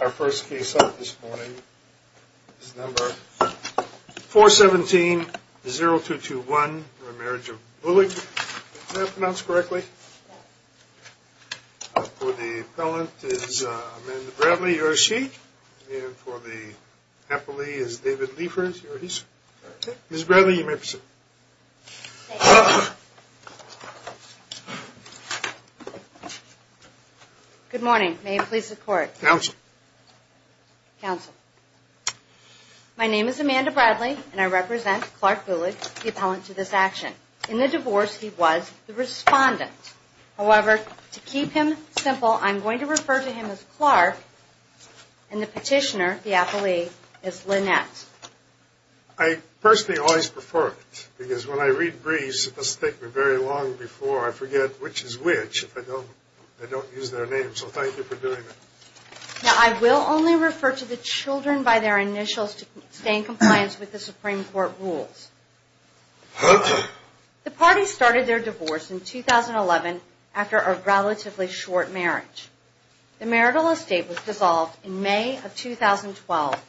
Our first case out this morning is number 417-0221 for a marriage of Buhlig. Did I pronounce correctly? For the appellant is Amanda Bradley. You're a she. And for the appellee is David Liefers. You're a he's. Ms. Bradley, you may proceed. Good morning. May it please the court. Counsel. Counsel. My name is Amanda Bradley, and I represent Clark Buhlig, the appellant to this action. In the divorce, he was the respondent. However, to keep him simple, I'm going to refer to him as Clark, and the petitioner, the appellee, is Lynette. I personally always prefer it. Because when I read briefs, it must take me very long before I forget which is which if I don't use their names. So thank you for doing that. Now, I will only refer to the children by their initials to stay in compliance with the Supreme Court rules. The parties started their divorce in 2011 after a relatively short marriage. The marital estate was dissolved in May of 2012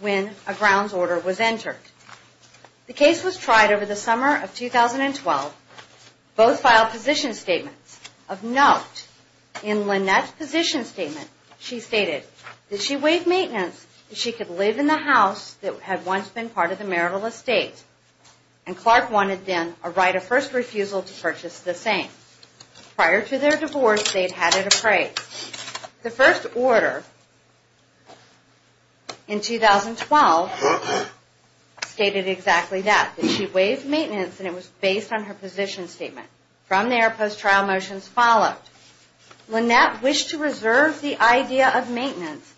when a grounds order was entered. The case was tried over the summer of 2012. Both filed position statements. Of note, in Lynette's position statement, she stated that she waived maintenance so she could live in the house that had once been part of the marital estate. And Clark wanted then a right of first refusal to purchase the same. Prior to their divorce, they had had it appraised. The first order in 2012 stated exactly that, that she waived maintenance and it was based on her position statement. From there, post-trial motions followed. Lynette wished to reserve the idea of maintenance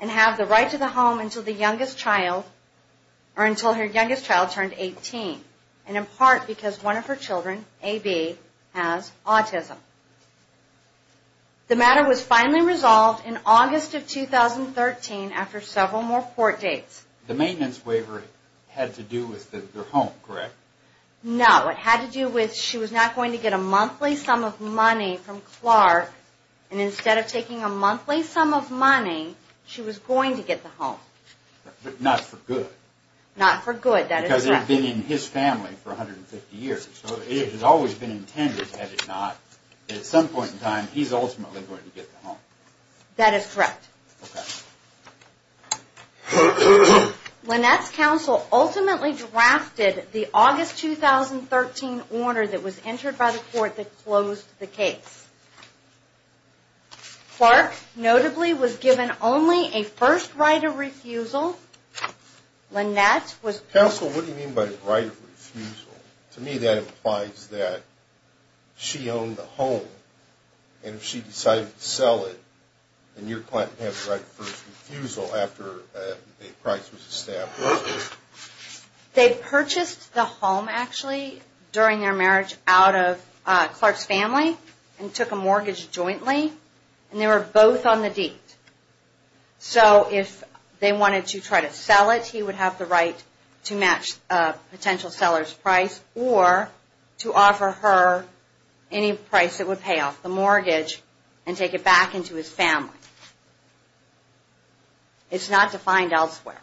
and have the right to the home until the youngest child, or until her youngest child turned 18. And in part because one of her children, AB, has autism. The matter was finally resolved in August of 2013 after several more court dates. The maintenance waiver had to do with their home, correct? No, it had to do with she was not going to get a monthly sum of money from Clark. And instead of taking a monthly sum of money, she was going to get the home. Not for good, that is correct. Because it had been in his family for 150 years, so it had always been intended, had it not. At some point in time, he's ultimately going to get the home. That is correct. Lynette's counsel ultimately drafted the August 2013 order that was entered by the court that closed the case. Clark, notably, was given only a first right of refusal. Lynette was... Counsel, what do you mean by right of refusal? To me that implies that she owned the home, and if she decided to sell it, then your client would have the right of first refusal after a price was established. They purchased the home, actually, during their marriage out of Clark's family and took a mortgage jointly. And they were both on the deed. So, if they wanted to try to sell it, he would have the right to match a potential seller's price or to offer her any price that would pay off the mortgage and take it back into his family. It's not defined elsewhere.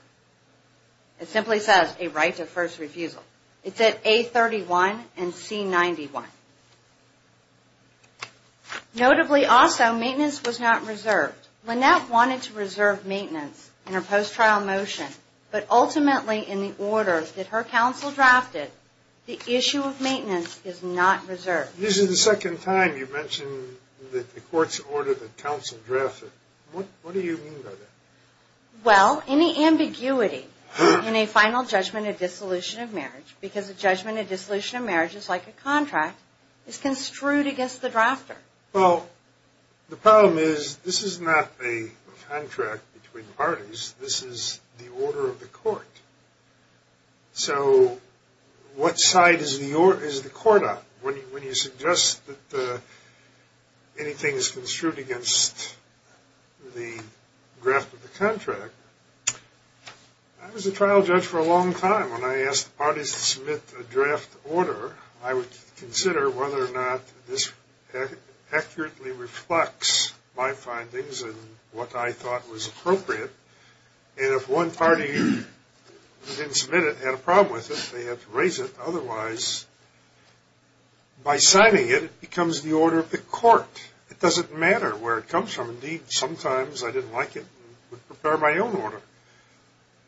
It simply says a right of first refusal. It's at A31 and C91. Notably, also, maintenance was not reserved. Lynette wanted to reserve maintenance in her post-trial motion, but ultimately in the order that her counsel drafted, the issue of maintenance is not reserved. This is the second time you've mentioned that the court's order that counsel drafted. What do you mean by that? Well, any ambiguity in a final judgment of dissolution of marriage, because a judgment of dissolution of marriage is like a contract, is construed against the drafter. Well, the problem is, this is not a contract between parties. This is the order of the court. So, what side is the court on when you suggest that anything is construed against the draft of the contract? I was a trial judge for a long time. When I asked parties to submit a draft order, I would consider whether or not this accurately reflects my findings and what I thought was appropriate. And if one party didn't submit it, had a problem with it, they have to raise it. Otherwise, by signing it, it becomes the order of the court. It doesn't matter where it comes from. Indeed, sometimes I didn't like it and would prepare my own order.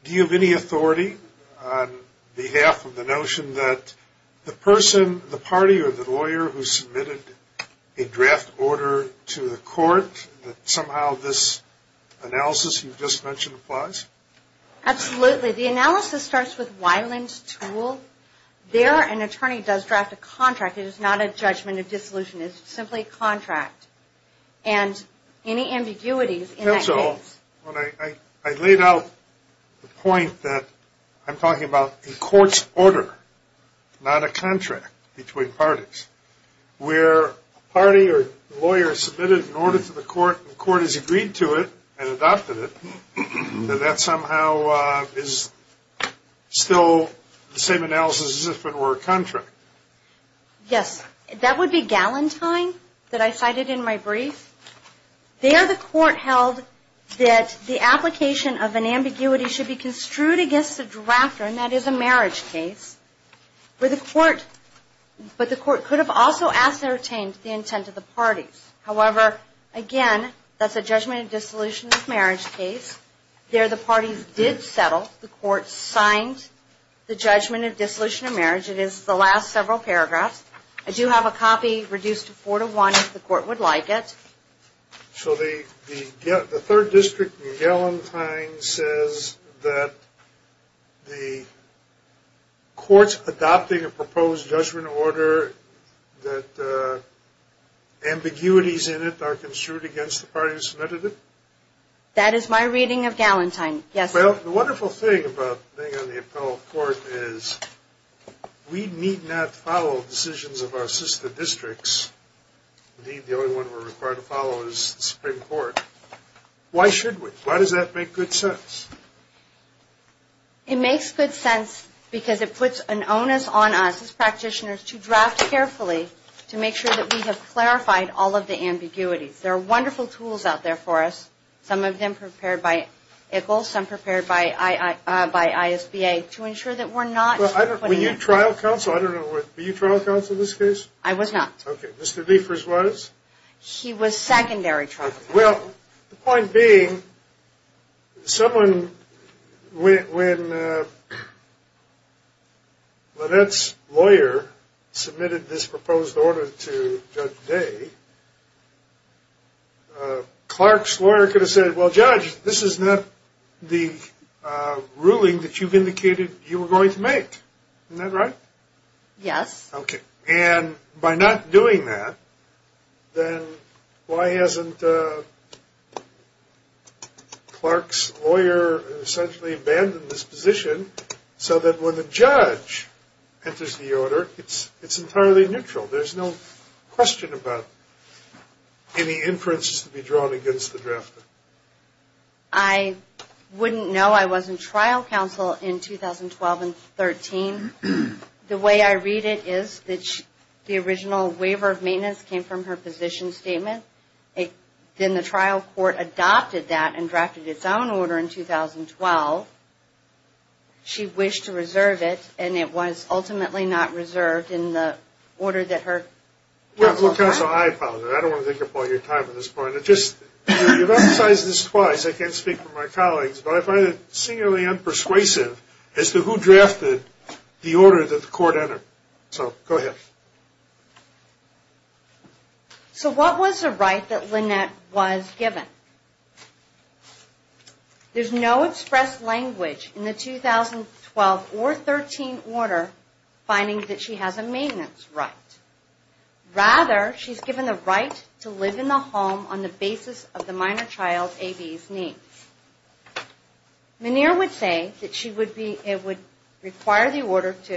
Do you have any authority on behalf of the notion that the person, the party, or the lawyer who submitted a draft order to the court, that somehow this analysis you just mentioned applies? Absolutely. The analysis starts with Weiland's tool. There, an attorney does draft a contract. It is not a judgment of dissolution. It's simply a contract. And any ambiguities in that case… You brought up the point that I'm talking about a court's order, not a contract between parties. Where a party or lawyer submitted an order to the court and the court has agreed to it and adopted it, that that somehow is still the same analysis as if it were a contract. Yes. That would be Gallantine that I cited in my brief. There, the court held that the application of an ambiguity should be construed against the drafter, and that is a marriage case. But the court could have also ascertained the intent of the parties. However, again, that's a judgment of dissolution of marriage case. There, the parties did settle. The court signed the judgment of dissolution of marriage. It is the last several paragraphs. I do have a copy, reduced to four to one, if the court would like it. So the third district in Gallantine says that the court's adopting a proposed judgment order, that ambiguities in it are construed against the parties who submitted it? That is my reading of Gallantine. Well, the wonderful thing about being on the appellate court is we need not follow decisions of our sister districts. Indeed, the only one we're required to follow is the Supreme Court. Why should we? Why does that make good sense? It makes good sense because it puts an onus on us as practitioners to draft carefully to make sure that we have clarified all of the ambiguities. There are wonderful tools out there for us. Some of them prepared by ICCL, some prepared by ISBA, to ensure that we're not putting in trouble. Were you trial counsel in this case? I was not. Okay. Mr. Diefers was? He was secondary trial counsel. Well, the point being, when Lynette's lawyer submitted this proposed order to Judge Day, Clark's lawyer could have said, well, Judge, this is not the ruling that you've indicated you were going to make. Isn't that right? Yes. Okay. And by not doing that, then why hasn't Clark's lawyer essentially abandoned this position so that when the judge enters the order, it's entirely neutral? There's no question about any inferences to be drawn against the drafter. I wouldn't know I wasn't trial counsel in 2012 and 2013. The way I read it is that the original waiver of maintenance came from her position statement. Then the trial court adopted that and drafted its own order in 2012. She wished to reserve it, and it was ultimately not reserved in the order that her... Well, counsel, I apologize. I don't want to take up all your time at this point. You've emphasized this twice. I can't speak for my colleagues, but I find it singularly unpersuasive as to who drafted the order that the court entered. So, go ahead. So what was the right that Lynette was given? There's no expressed language in the 2012 or 13 order finding that she has a maintenance right. Rather, she's given the right to live in the home on the basis of the minor child's A-B's needs. Menhir would say that it would require the order to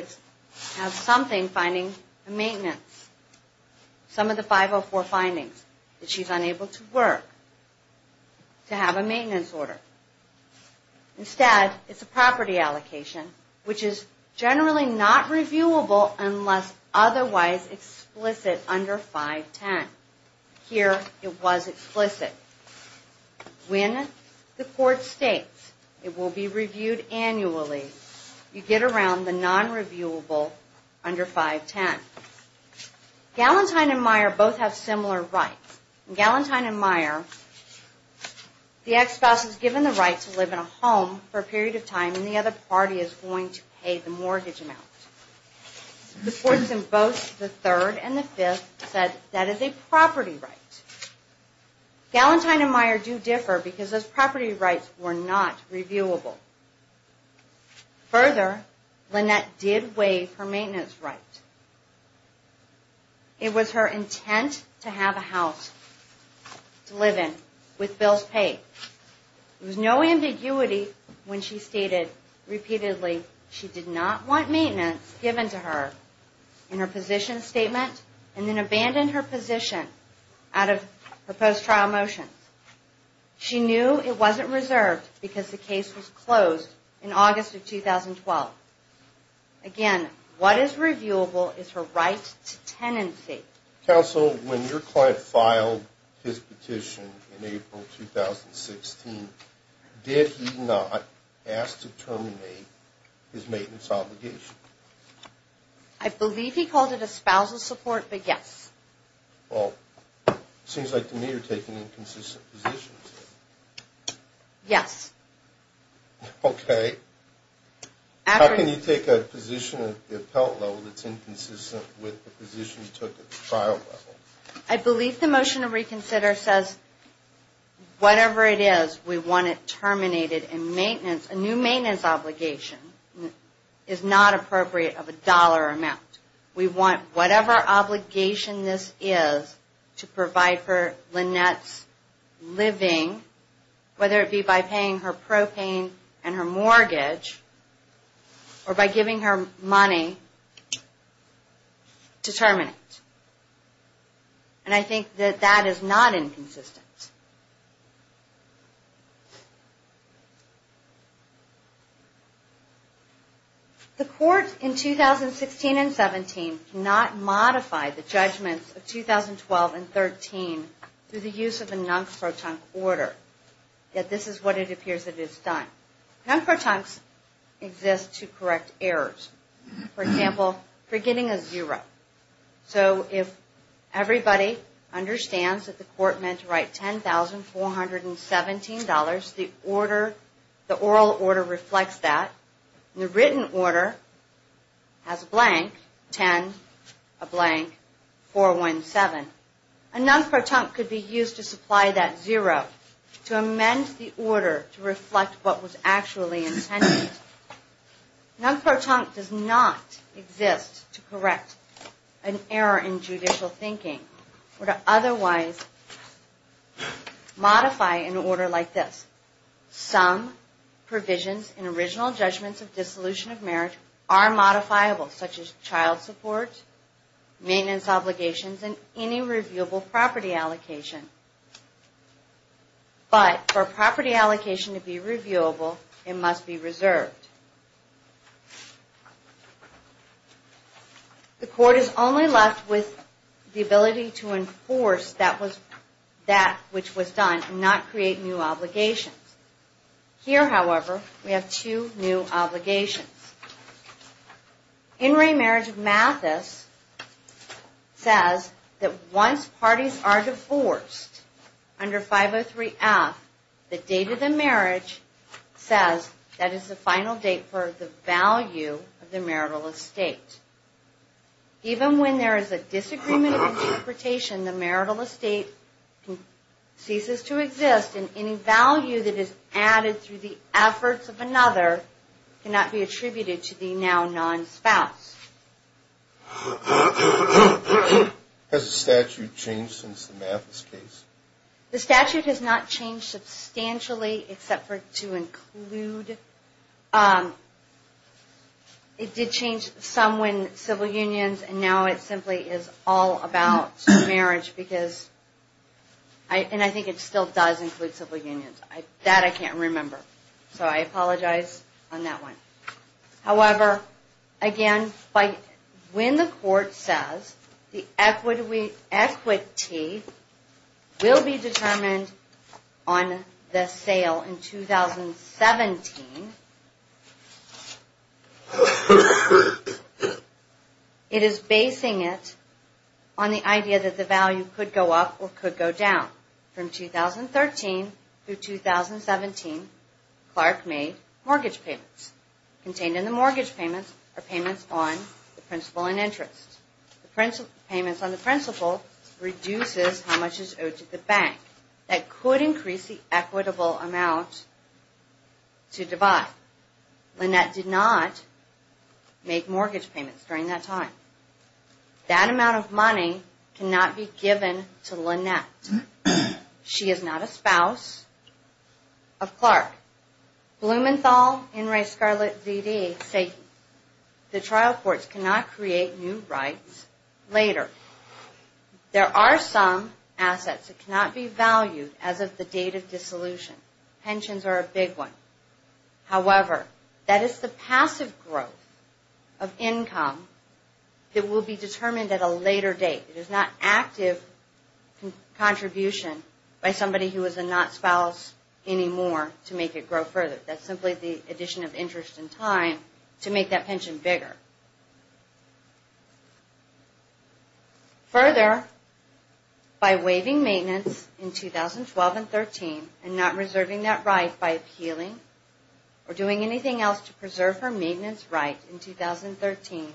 have something finding a maintenance. Some of the 504 findings, that she's unable to work, to have a maintenance order. Instead, it's a property allocation, which is generally not reviewable unless otherwise explicit under 510. Here, it was explicit. When the court states it will be reviewed annually, you get around the non-reviewable under 510. Gallantine and Meyer both have similar rights. In Gallantine and Meyer, the ex-spouse is given the right to live in a home for a period of time, and the other party is going to pay the mortgage amount. The courts in both the third and the fifth said that is a property right. Gallantine and Meyer do differ because those property rights were not reviewable. Further, Lynette did waive her maintenance right. It was her intent to have a house to live in with bills paid. There was no ambiguity when she stated repeatedly she did not want maintenance given to her in her position statement, and then abandoned her position out of her post-trial motions. She knew it wasn't reserved because the case was closed in August of 2012. Again, what is reviewable is her right to tenancy. Counsel, when your client filed his petition in April 2016, did he not ask to terminate his maintenance obligation? I believe he called it espousal support, but yes. Well, it seems like to me you're taking inconsistent positions. Yes. Okay. How can you take a position at the appellate level that's inconsistent with the position you took at the trial level? I believe the motion to reconsider says whatever it is, we want it terminated in maintenance. A new maintenance obligation is not appropriate of a dollar amount. We want whatever obligation this is to provide for Lynette's living, whether it be by paying her propane and her mortgage, or by giving her money to terminate. And I think that that is not inconsistent. Next. The court in 2016 and 17 did not modify the judgments of 2012 and 13 through the use of a non-protunct order. Yet this is what it appears it has done. Non-protuncts exist to correct errors. For example, forgetting a zero. So if everybody understands that the court meant to write $10,417, the oral order reflects that. The written order has a blank, 10, a blank, 417. A non-protunct could be used to supply that zero to amend the order to reflect what was actually intended. Non-protunct does not exist to correct an error in judicial thinking or to otherwise modify an order like this. Some provisions in original judgments of dissolution of marriage are modifiable, such as child support, maintenance obligations, and any reviewable property allocation. But for a property allocation to be reviewable, it must be reserved. The court is only left with the ability to enforce that which was done and not create new obligations. Here, however, we have two new obligations. In re-marriage, Mathis says that once parties are divorced under 503F, the date of the marriage says that is the final date for the value of the marital estate. Even when there is a disagreement of interpretation, the marital estate ceases to exist, and any value that is added through the efforts of another cannot be attributed to the now non-spouse. Has the statute changed since the Mathis case? The statute has not changed substantially except for to include – it did change some when civil unions, and now it simply is all about marriage because – and I think it still does include civil unions. That I can't remember, so I apologize on that one. However, again, when the court says the equity will be determined on the sale in 2017, it is basing it on the idea that the value could go up or could go down. From 2013 through 2017, Clark made mortgage payments. Contained in the mortgage payments are payments on the principal and interest. Payments on the principal reduces how much is owed to the bank. That could increase the equitable amount to divide. Lynette did not make mortgage payments during that time. That amount of money cannot be given to Lynette. She is not a spouse of Clark. Blumenthal, Inres, Scarlett, ZD say the trial courts cannot create new rights later. There are some assets that cannot be valued as of the date of dissolution. Pensions are a big one. However, that is the passive growth of income that will be determined at a later date. It is not active contribution by somebody who is a not spouse anymore to make it grow further. That is simply the addition of interest and time to make that pension bigger. Further, by waiving maintenance in 2012 and 2013 and not reserving that right by appealing or doing anything else to preserve her maintenance right in 2013,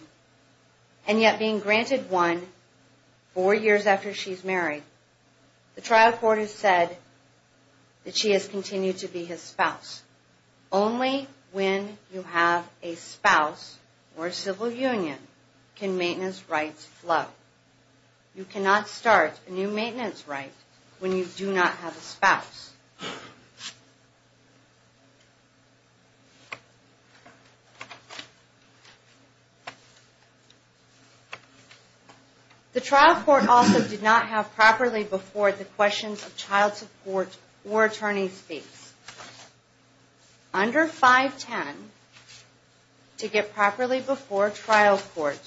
and yet being granted one four years after she is married, the trial court has said that she has continued to be his spouse. Only when you have a spouse or a civil union can maintenance rights flow. You cannot start a new maintenance right when you do not have a spouse. The trial court also did not have properly before the questions of child support or attorney's fees. Under 510, to get properly before trial court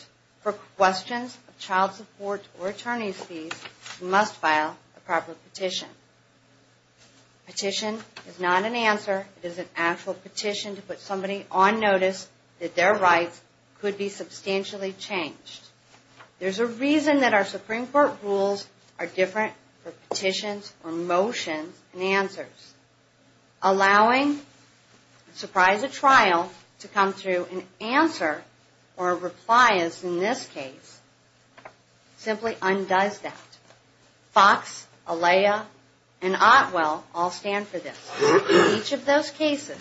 for questions of child support or attorney's fees, you must file a proper petition. Petition is not an answer. It is an actual petition to put somebody on notice that their rights could be substantially changed. There is a reason that our Supreme Court rules are different for petitions or motions and answers. Allowing surprise at trial to come through an answer or a reply, as in this case, simply undoes that. Fox, Alea, and Otwell all stand for this. In each of those cases,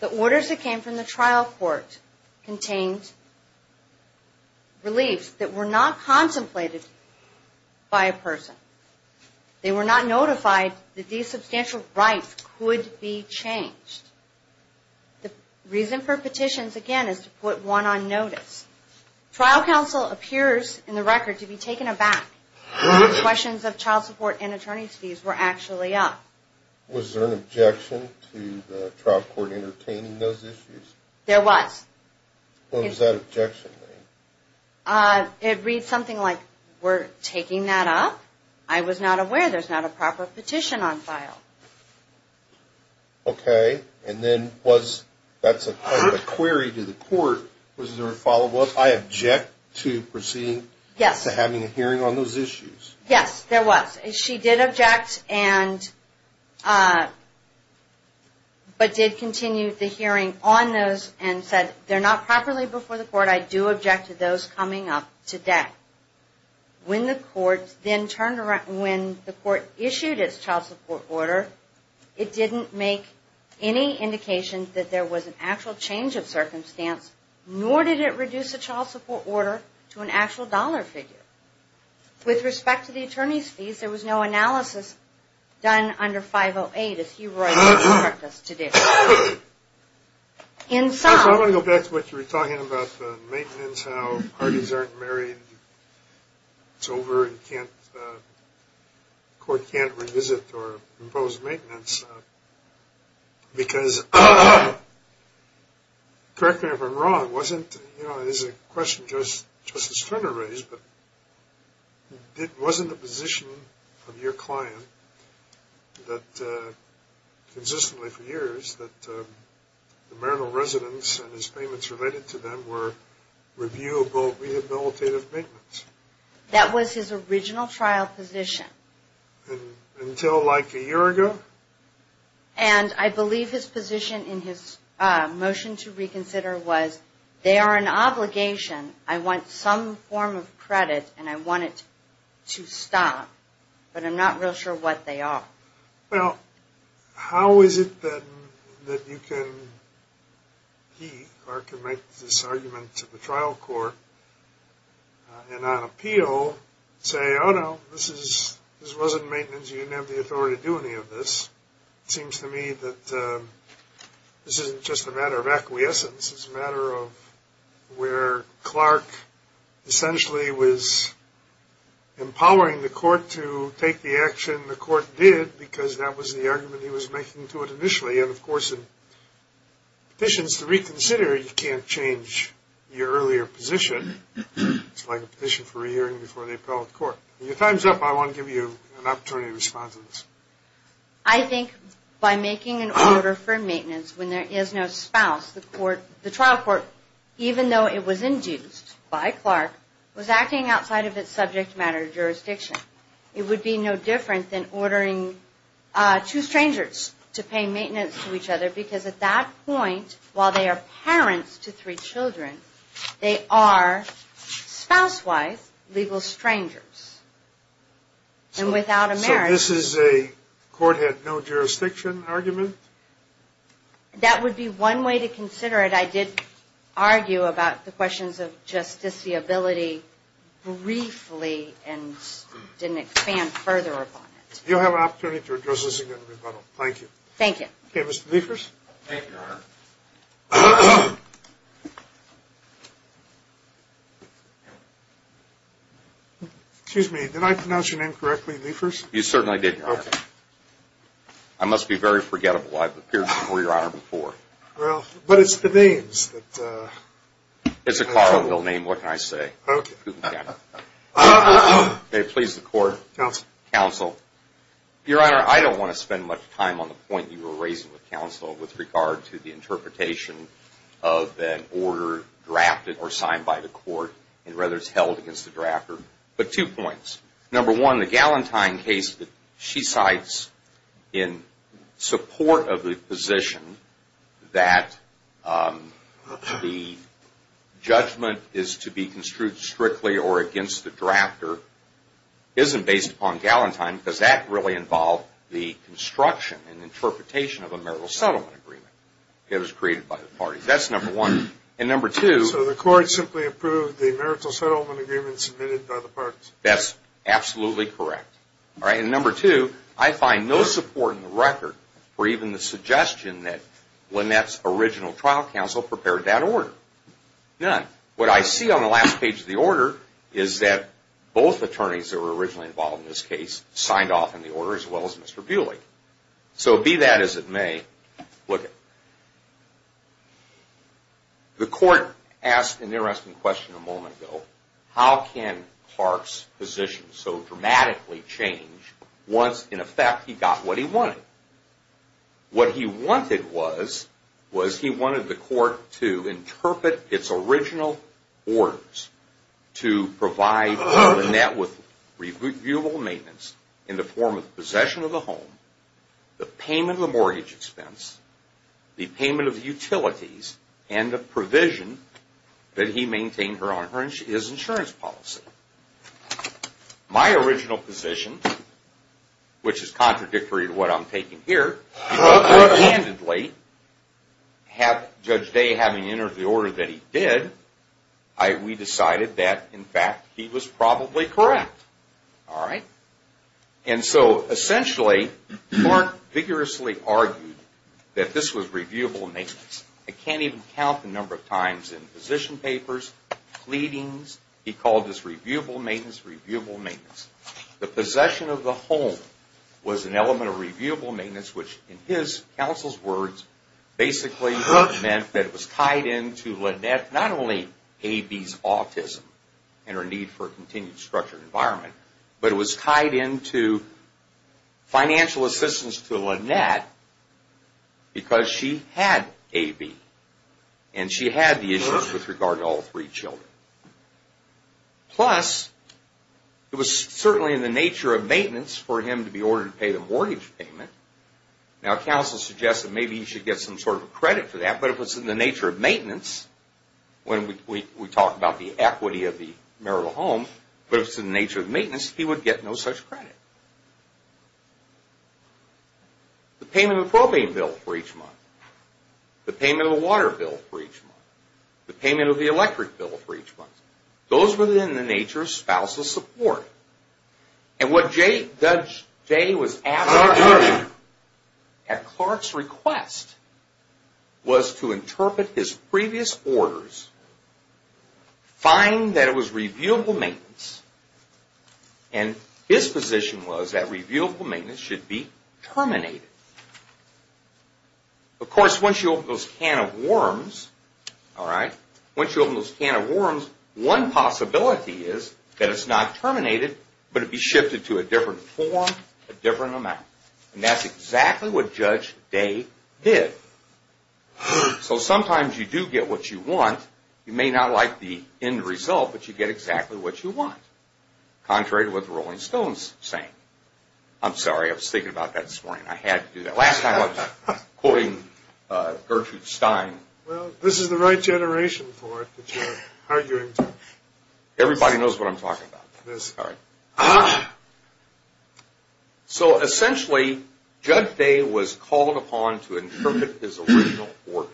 the orders that came from the trial court contained reliefs that were not contemplated by a person. They were not notified that these substantial rights could be changed. The reason for petitions, again, is to put one on notice. Trial counsel appears in the record to be taken aback when the questions of child support and attorney's fees were actually up. Was there an objection to the trial court entertaining those issues? There was. What does that objection mean? It reads something like, we're taking that up. I was not aware there's not a proper petition on file. Okay. And then that's a query to the court. Was there a follow-up? I object to proceeding to having a hearing on those issues. Yes, there was. She did object, but did continue the hearing on those and said, they're not properly before the court. I do object to those coming up today. When the court issued its child support order, it didn't make any indication that there was an actual change of circumstance, nor did it reduce the child support order to an actual dollar figure. With respect to the attorney's fees, there was no analysis done under 508, as he wrote in his practice today. I want to go back to what you were talking about, the maintenance, how parties aren't married, it's over, and the court can't revisit or impose maintenance, because, correct me if I'm wrong, but it wasn't the position of your client that consistently for years that the marital residence and his payments related to them were reviewable rehabilitative maintenance. That was his original trial position. Until like a year ago? And I believe his position in his motion to reconsider was, they are an obligation, I want some form of credit, and I want it to stop. But I'm not real sure what they are. Well, how is it then that you can, he, Clark, can make this argument to the trial court, and on appeal, say, oh no, this wasn't maintenance, you didn't have the authority to do any of this. It seems to me that this isn't just a matter of acquiescence, it's a matter of where Clark essentially was empowering the court to take the action the court did, because that was the argument he was making to it initially. And of course, in petitions to reconsider, you can't change your earlier position. It's like a petition for re-hearing before the appellate court. In your time's up, I want to give you an opportunity to respond to this. I think by making an order for maintenance when there is no spouse, the trial court, even though it was induced by Clark, was acting outside of its subject matter jurisdiction. It would be no different than ordering two strangers to pay maintenance to each other, because at that point, while they are parents to three children, they are, spouse-wise, legal strangers. And without a marriage... So this is a court had no jurisdiction argument? That would be one way to consider it. I did argue about the questions of justiciability briefly and didn't expand further upon it. You'll have an opportunity to address this in your rebuttal. Thank you. Thank you. Okay, Mr. Liefers? Thank you, Your Honor. Excuse me, did I pronounce your name correctly, Liefers? You certainly did, Your Honor. Okay. I must be very forgettable. I've appeared before, Your Honor, before. Well, but it's the names that... It's a cardinal name. What can I say? Okay. Okay, please, the court. Counsel. Counsel. Your Honor, I don't want to spend much time on the point you were raising with counsel with regard to the interpretation of an order drafted or signed by the court. Rather, it's held against the drafter. But two points. Number one, the Gallantine case that she cites in support of the position that the judgment is to be construed strictly or against the drafter isn't based upon Gallantine because that really involved the construction and interpretation of a marital settlement agreement that was created by the parties. That's number one. And number two... So the court simply approved the marital settlement agreement submitted by the parties? That's absolutely correct. All right? And number two, I find no support in the record for even the suggestion that Lynette's original trial counsel prepared that order. None. What I see on the last page of the order is that both attorneys that were originally involved in this case signed off on the order as well as Mr. Buhlig. So be that as it may, look it. The court asked an interesting question a moment ago. How can Clark's position so dramatically change once, in effect, he got what he wanted? What he wanted was he wanted the court to interpret its original orders to provide Lynette with reviewable maintenance in the form of possession of the properties and the provision that he maintained her insurance policy. My original position, which is contradictory to what I'm taking here, handedly, Judge Day having entered the order that he did, we decided that, in fact, he was probably correct. All right? And so, essentially, Clark vigorously argued that this was reviewable maintenance. I can't even count the number of times in position papers, pleadings, he called this reviewable maintenance, reviewable maintenance. The possession of the home was an element of reviewable maintenance, which, in his counsel's words, basically meant that it was tied into Lynette not only A.B.'s autism and her need for a continued structured environment, but it was tied into financial assistance to Lynette because she had A.B. and she had the issues with regard to all three children. Plus, it was certainly in the nature of maintenance for him to be ordered to pay the mortgage payment. Now, counsel suggested maybe he should get some sort of credit for that, but if it's in the nature of maintenance, when we talk about the equity of the marital home, but if it's in the nature of maintenance, he would get no such credit. The payment of the propane bill for each month, the payment of the water bill for each month, the payment of the electric bill for each month, those were in the nature of spousal support. And what Judge Day was asked to do at Clark's request was to interpret his previous orders, find that it was reviewable maintenance, and his position was that reviewable maintenance should be terminated. Of course, once you open those can of worms, one possibility is that it's not terminated, but it'd be shifted to a different form, a different amount. And that's exactly what Judge Day did. So sometimes you do get what you want. You may not like the end result, but you get exactly what you want. Contrary to what the Rolling Stones sang. I'm sorry. I was thinking about that this morning. I had to do that. Last time I was quoting Gertrude Stein. Well, this is the right generation for it that you're arguing to. Everybody knows what I'm talking about. Yes. All right. So essentially, Judge Day was called upon to interpret his original orders.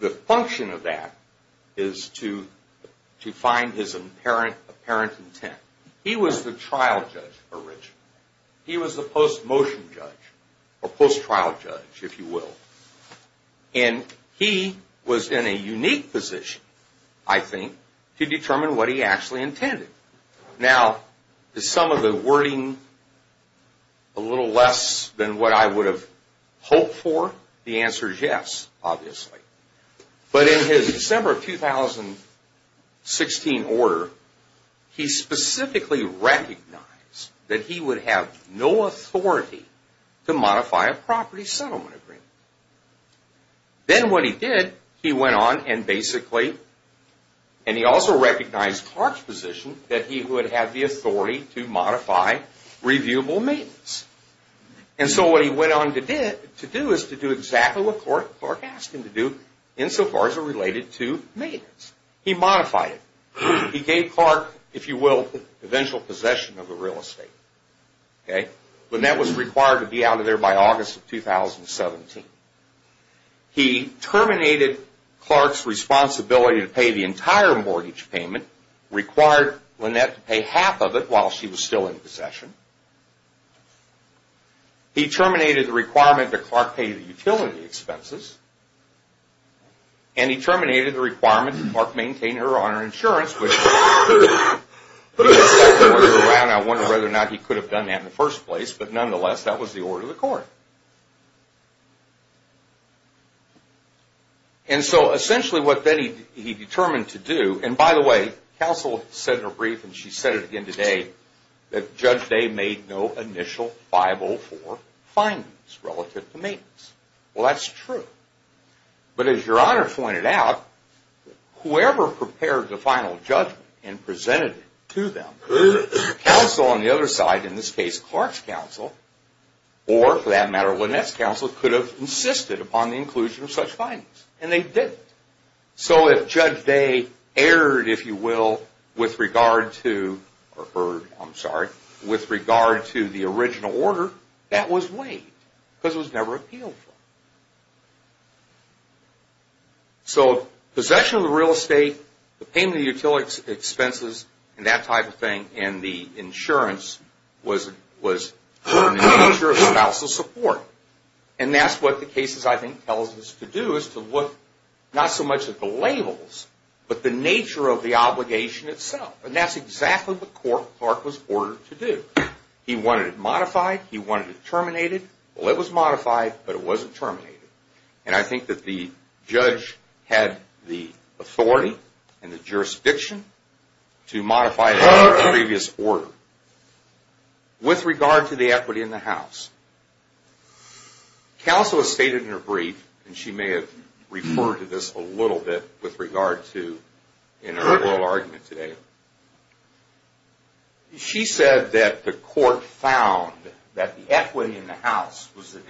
The function of that is to find his apparent intent. He was the trial judge originally. He was the post-motion judge, or post-trial judge, if you will. And he was in a unique position, I think, to determine what he actually intended. Now, is some of the wording a little less than what I would have hoped for? The answer is yes, obviously. But in his December of 2016 order, he specifically recognized that he would have no authority to modify a property settlement agreement. Then what he did, he went on and basically, and he also recognized Clark's position that he would have the authority to modify reviewable maintenance. And so what he went on to do is to do exactly what Clark asked him to do, insofar as it related to maintenance. He modified it. He gave Clark, if you will, eventual possession of a real estate. Lynette was required to be out of there by August of 2017. He terminated Clark's responsibility to pay the entire mortgage payment, required Lynette to pay half of it while she was still in possession. He terminated the requirement that Clark pay the utility expenses. And he terminated the requirement that Clark maintain her honor insurance, which I wonder whether or not he could have done that in the first place. But nonetheless, that was the order of the court. And so essentially what he determined to do, and by the way, counsel said in her brief, and she said it again today, that Judge Day made no initial 504 findings relative to maintenance. Well, that's true. But as Your Honor pointed out, whoever prepared the final judgment and presented it to them, counsel on the other side, in this case Clark's counsel, or for that matter, Lynette's counsel, could have insisted upon the inclusion of such findings. And they didn't. So if Judge Day erred, if you will, with regard to the original order, that was waived because it was never appealed for. So possession of the real estate, the payment of the utility expenses, and that type of thing, and the insurance was the nature of counsel's support. And that's what the case, I think, tells us to do, is to look not so much at the labels, but the nature of the obligation itself. And that's exactly what Clark was ordered to do. He wanted it modified. He wanted it terminated. Well, it was modified, but it wasn't terminated. And I think that the judge had the authority and the jurisdiction to modify the previous order. With regard to the equity in the house, counsel has stated in her brief, and she may have referred to this a little bit with regard to an earlier argument today, she said that the court found that the equity in the house was the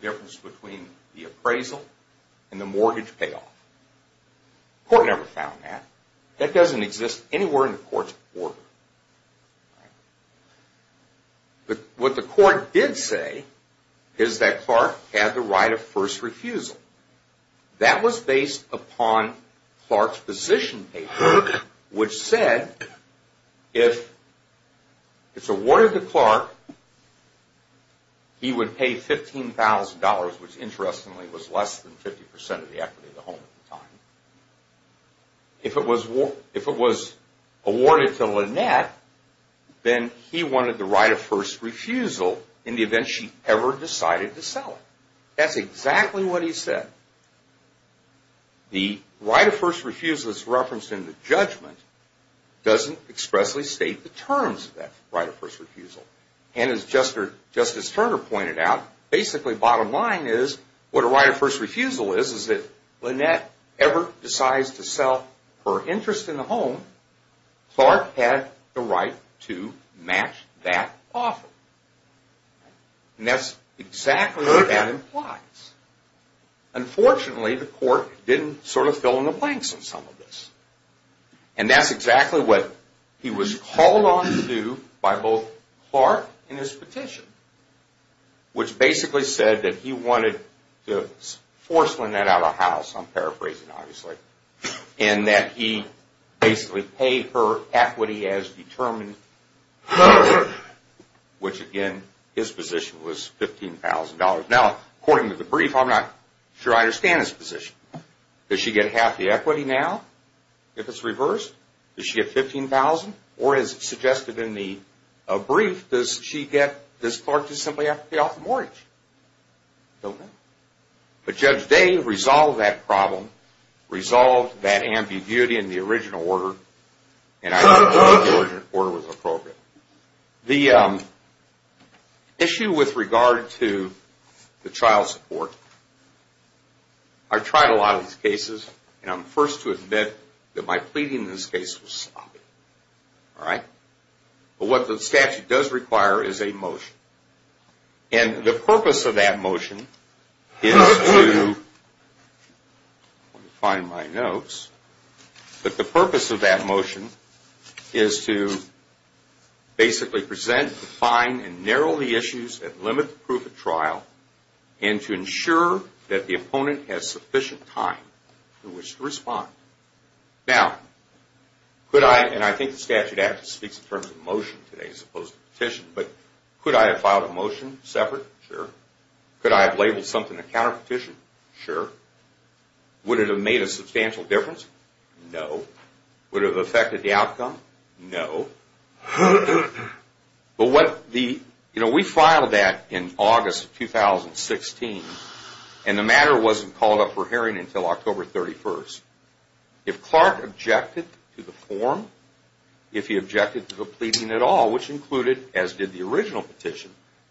difference between the appraisal and the mortgage payoff. The court never found that. That doesn't exist anywhere in the court's order. What the court did say is that Clark had the right of first refusal. That was based upon Clark's position paper, which said if it's awarded to Clark, he would pay $15,000, which interestingly was less than 50% of the equity in the home at the time. If it was awarded to Lynette, then he wanted the right of first refusal in the event she ever decided to sell it. That's exactly what he said. The right of first refusal that's referenced in the judgment doesn't expressly state the terms of that right of first refusal. As Justice Turner pointed out, basically bottom line is what a right of first refusal is is that Lynette ever decides to sell her interest in the home, Clark had the right to match that offer. That's exactly what that implies. Unfortunately, the court didn't fill in the blanks on some of this. That's exactly what he was called on to do by both Clark and his petition, which basically said that he wanted to force Lynette out of the house, I'm paraphrasing obviously, and that he basically paid her equity as determined, which again, his position was $15,000. Now, according to the brief, I'm not sure I understand his position. Does she get half the equity now if it's reversed? Does she get $15,000? Or as suggested in the brief, does Clark just simply have to pay off the mortgage? Don't know. But Judge Day resolved that problem, resolved that ambiguity in the original order, and I think the original order was appropriate. The issue with regard to the child support, I've tried a lot of these cases, and I'm the first to admit that my pleading in this case was sloppy, all right? But what the statute does require is a motion. And the purpose of that motion is to, let me find my notes, but the purpose of that motion is to basically present, define, and narrow the issues that limit the proof of trial and to ensure that the opponent has sufficient time to respond. Now, could I, and I think the statute actually speaks in terms of motion today as opposed to petition, but could I have filed a motion separate? Sure. Could I have labeled something a counterpetition? Sure. Would it have made a substantial difference? No. Would it have affected the outcome? No. But what the, you know, we filed that in August of 2016, and the matter wasn't called up for hearing until October 31st. If Clark objected to the form, if he objected to the pleading at all, which included, as did the original petition,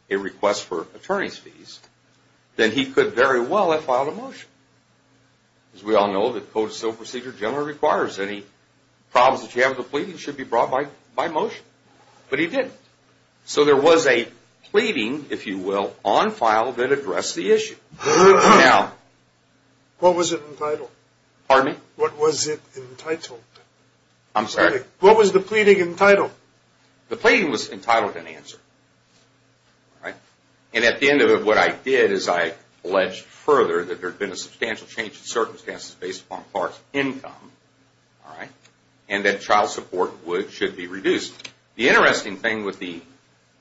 a request for attorney's fees, then he could very well have filed a motion. As we all know, the Code of Civil Procedure generally requires any problems that you have with the pleading should be brought by motion. But he didn't. So there was a pleading, if you will, on file that addressed the issue. Now. What was it entitled? Pardon me? What was it entitled? I'm sorry. What was the pleading entitled? The pleading was entitled in answer. All right. And at the end of it, what I did is I alleged further that there had been a substantial change in circumstances based upon Clark's income. All right. And that child support would, should be reduced. The interesting thing with the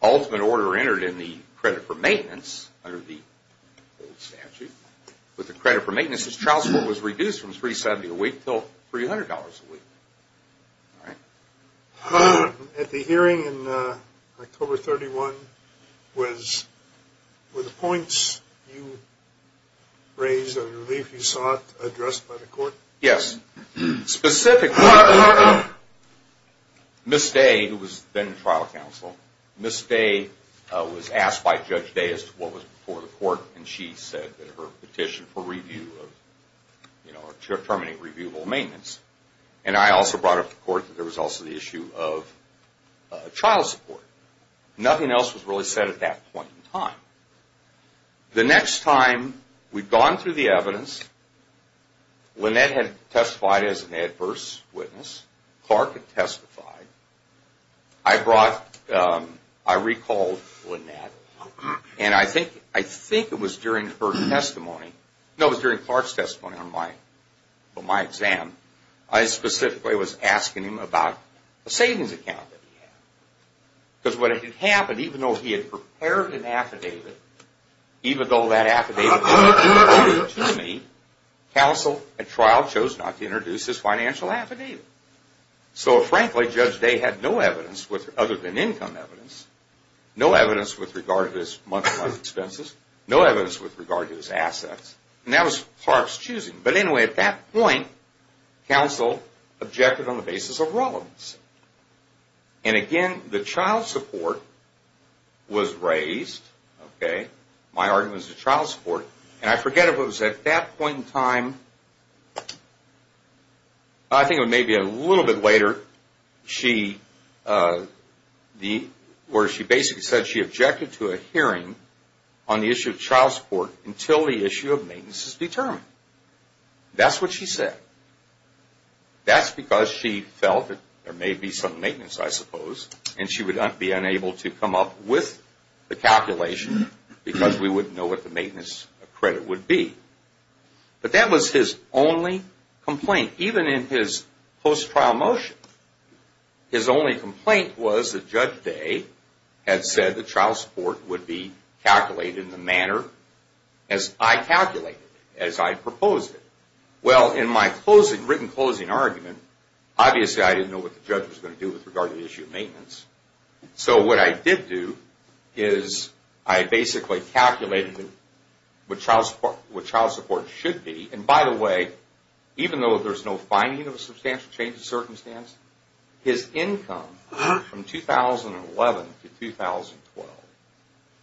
ultimate order entered in the credit for maintenance under the old statute, with the credit for maintenance, is child support was reduced from $370 a week until $300 a week. All right. At the hearing in October 31, were the points you raised a relief you sought addressed by the court? Yes. Specifically, Ms. Day, who was then trial counsel, Ms. Day was asked by Judge Day as to what was before the court, and she said that her petition for review of, you know, terminating reviewable maintenance. And I also brought up to court that there was also the issue of child support. Nothing else was really said at that point in time. The next time we'd gone through the evidence, Lynette had testified as an adverse witness, Clark had testified. I brought, I recalled Lynette, and I think it was during her testimony, no, it was during Clark's testimony on my exam, I specifically was asking him about a savings account that he had. Because what had happened, even though he had prepared an affidavit, even though that affidavit didn't prove to me, counsel at trial chose not to introduce his financial affidavit. So, frankly, Judge Day had no evidence other than income evidence, no evidence with regard to his monthly expenses, no evidence with regard to his assets. And that was Clark's choosing. But anyway, at that point, counsel objected on the basis of relevance. And again, the child support was raised, okay? My argument was the child support. And I forget if it was at that point in time, I think it was maybe a little bit later, where she basically said she objected to a hearing on the issue of child support until the issue of maintenance is determined. That's what she said. That's because she felt that there may be some maintenance, I suppose, and she would be unable to come up with the calculation because we wouldn't know what the maintenance credit would be. But that was his only complaint, even in his post-trial motion. His only complaint was that Judge Day had said the child support would be calculated in the manner as I calculated, as I proposed it. Well, in my written closing argument, obviously I didn't know what the judge was going to do with regard to the issue of maintenance. So what I did do is I basically calculated what child support should be. And by the way, even though there's no finding of a substantial change in circumstance, his income from 2011 to 2012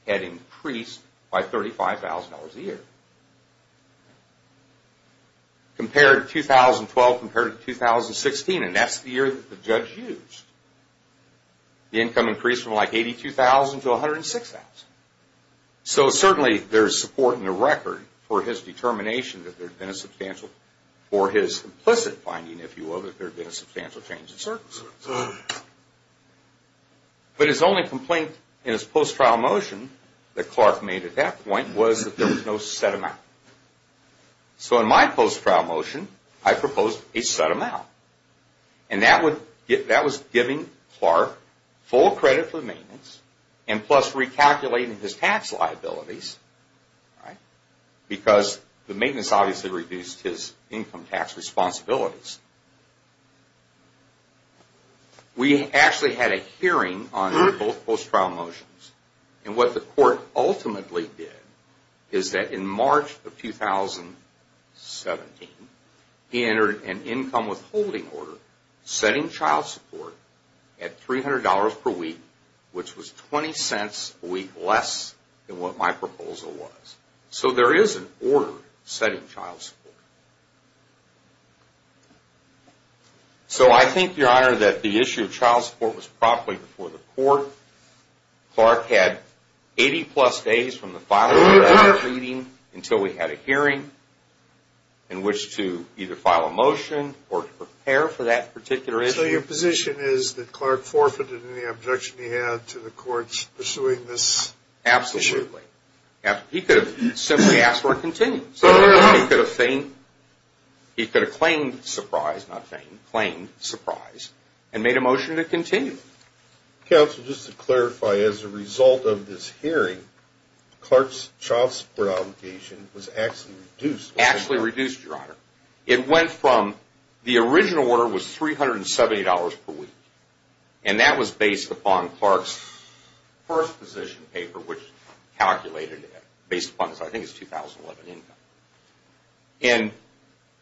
had increased by $35,000 a year. Compared to 2012, compared to 2016, and that's the year that the judge used, the income increased from like $82,000 to $106,000. So certainly there's support in the record for his determination that there had been a substantial, or his implicit finding, if you will, that there had been a substantial change in circumstance. But his only complaint in his post-trial motion that Clark made at that point was that there was no set amount. So in my post-trial motion, I proposed a set amount. And that was giving Clark full credit for maintenance, and plus recalculating his tax liabilities, because the maintenance obviously reduced his income tax responsibilities. We actually had a hearing on both post-trial motions. And what the court ultimately did is that in March of 2017, he entered an income withholding order setting child support at $300 per week, which was 20 cents a week less than what my proposal was. So there is an order setting child support. So I think, Your Honor, that the issue of child support was properly before the court. Clark had 80-plus days from the filing of that reading until we had a hearing in which to either file a motion or to prepare for that particular issue. So your position is that Clark forfeited any objection he had to the courts pursuing this issue? Absolutely. He could have simply asked for a continued. He could have claimed surprise, not feigned, claimed surprise, and made a motion to continue. Counsel, just to clarify, as a result of this hearing, Clark's child support obligation was actually reduced? Actually reduced, Your Honor. It went from the original order was $370 per week, and that was based upon Clark's first position paper, which calculated it, based upon I think his 2011 income.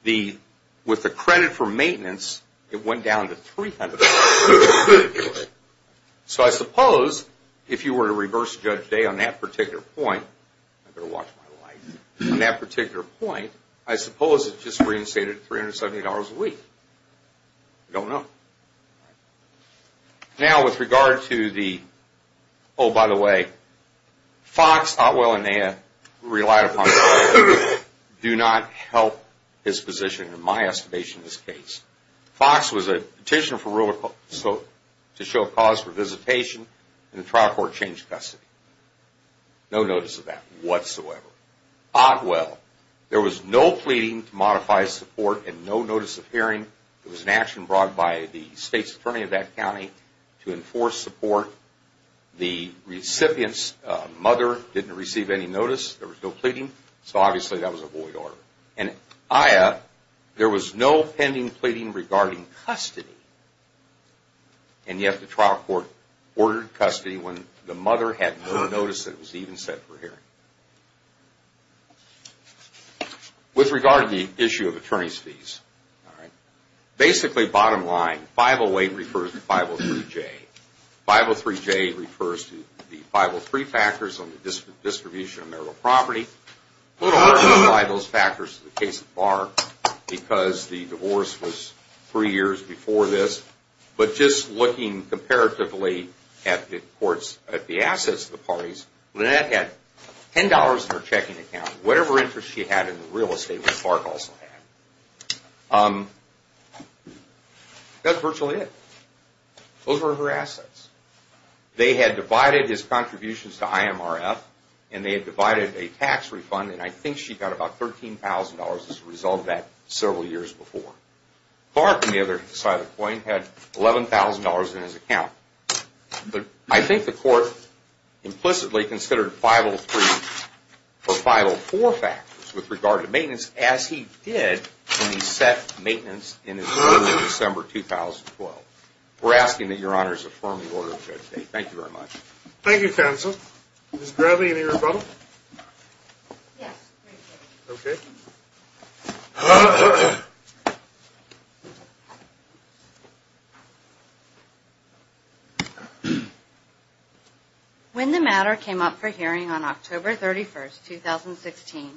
And with the credit for maintenance, it went down to $300. So I suppose if you were to reverse Judge Day on that particular point, I better watch my life, on that particular point, I suppose it just reinstated $370 a week. I don't know. Now, with regard to the, oh, by the way, Fox, Otwell, and Naya relied upon Clark. Do not help his position, in my estimation, in this case. Fox was a petitioner to show cause for visitation, and the trial court changed custody. No notice of that whatsoever. Otwell, there was no pleading to modify his support and no notice of hearing. There was an action brought by the state's attorney of that county to enforce support. The recipient's mother didn't receive any notice. There was no pleading, so obviously that was a void order. And Naya, there was no pending pleading regarding custody, and yet the trial court ordered custody when the mother had no notice that was even set for hearing. With regard to the issue of attorney's fees, basically, bottom line, 508 refers to 503J. 503J refers to the 503 factors on the distribution of marital property. We don't want to apply those factors to the case of Clark, because the divorce was three years before this, but just looking comparatively at the assets of the parties, Lynette had $10 in her checking account, whatever interest she had in the real estate that Clark also had. That's virtually it. Those were her assets. They had divided his contributions to IMRF, and they had divided a tax refund, and I think she got about $13,000 as a result of that several years before. Clark, on the other side of the coin, had $11,000 in his account. I think the court implicitly considered 503 for 504 factors with regard to maintenance, as he did when he set maintenance in his ruling in December 2012. We're asking that Your Honors affirm the order of Judge Day. Thank you very much. Thank you, counsel. Ms. Gravey, any rebuttal? Yes. Okay. When the matter came up for hearing on October 31, 2016,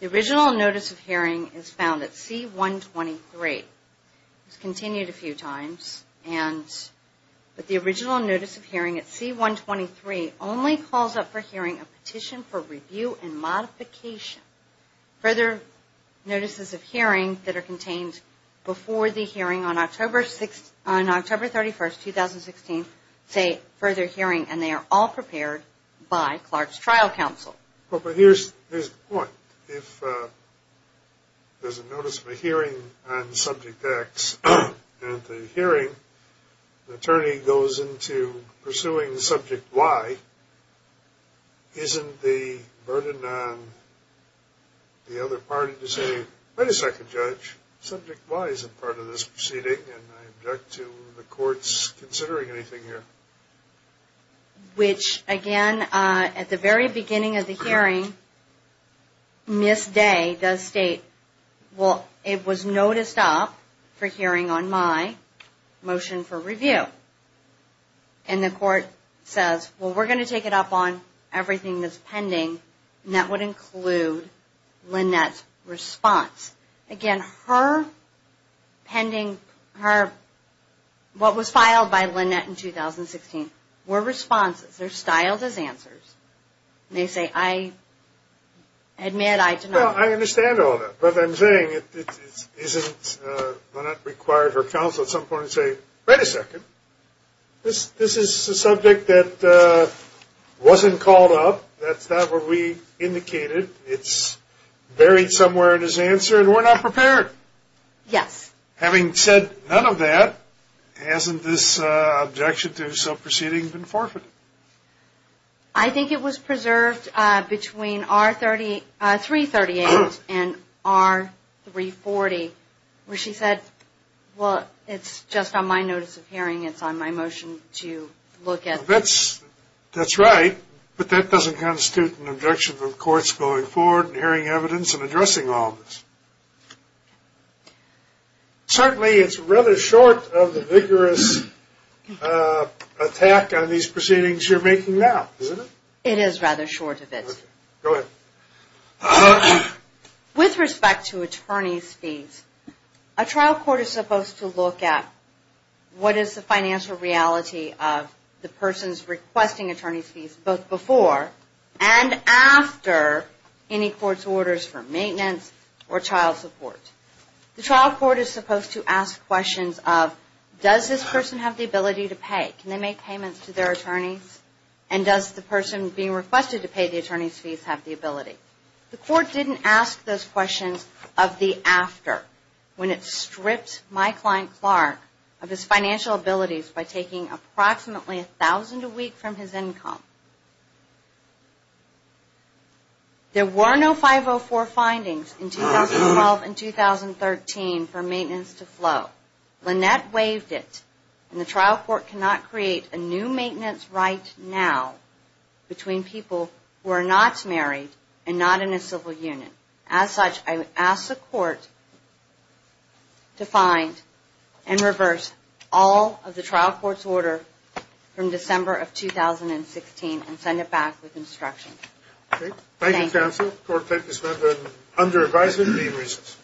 the original notice of hearing is found at C-123. It was continued a few times, but the original notice of hearing at C-123 only calls up for hearing a petition for review and modification. Further notices of hearing that are contained before the hearing on October 31, 2016, say further hearing, and they are all prepared by Clark's trial counsel. But here's the point. If there's a notice of a hearing on Subject X, and at the hearing the attorney goes into pursuing Subject Y, isn't the burden on the other party to say, wait a second, Judge, Subject Y is a part of this proceeding, and I object to the courts considering anything here? Which, again, at the very beginning of the hearing, Ms. Day does state, well, it was noticed up for hearing on my motion for review. And the court says, well, we're going to take it up on everything that's pending, and that would include Lynette's response. Again, her pending, what was filed by Lynette in 2016, were responses. They're styled as answers. They say, I admit, I deny. Well, I understand all that. But I'm saying, isn't Lynette required her counsel at some point to say, wait a second, this is a subject that wasn't called up. That's not what we indicated. It's buried somewhere in his answer, and we're not prepared. Yes. Having said none of that, hasn't this objection to his subproceeding been forfeited? I think it was preserved between R338 and R340, where she said, well, it's just on my notice of hearing. It's on my motion to look at. That's right, but that doesn't constitute an objection to the courts going forward and hearing evidence and addressing all of this. Certainly, it's rather short of the vigorous attack on these proceedings you're making now, isn't it? It is rather short of it. Go ahead. With respect to attorney's fees, a trial court is supposed to look at what is the financial reality of the person's requesting attorney's fees, both before and after any court's orders for maintenance or child support. The trial court is supposed to ask questions of, does this person have the ability to pay? Can they make payments to their attorneys? And does the person being requested to pay the attorney's fees have the ability? The court didn't ask those questions of the after, when it stripped my client, Clark, of his financial abilities by taking approximately $1,000 a week from his income. There were no 504 findings in 2012 and 2013 for maintenance to flow. Lynette waived it, and the trial court cannot create a new maintenance right now between people who are not married and not in a civil union. As such, I would ask the court to find and reverse all of the trial court's order from December of 2016 and send it back with instructions. Thank you, counsel. The court takes this matter under advisory of the regents.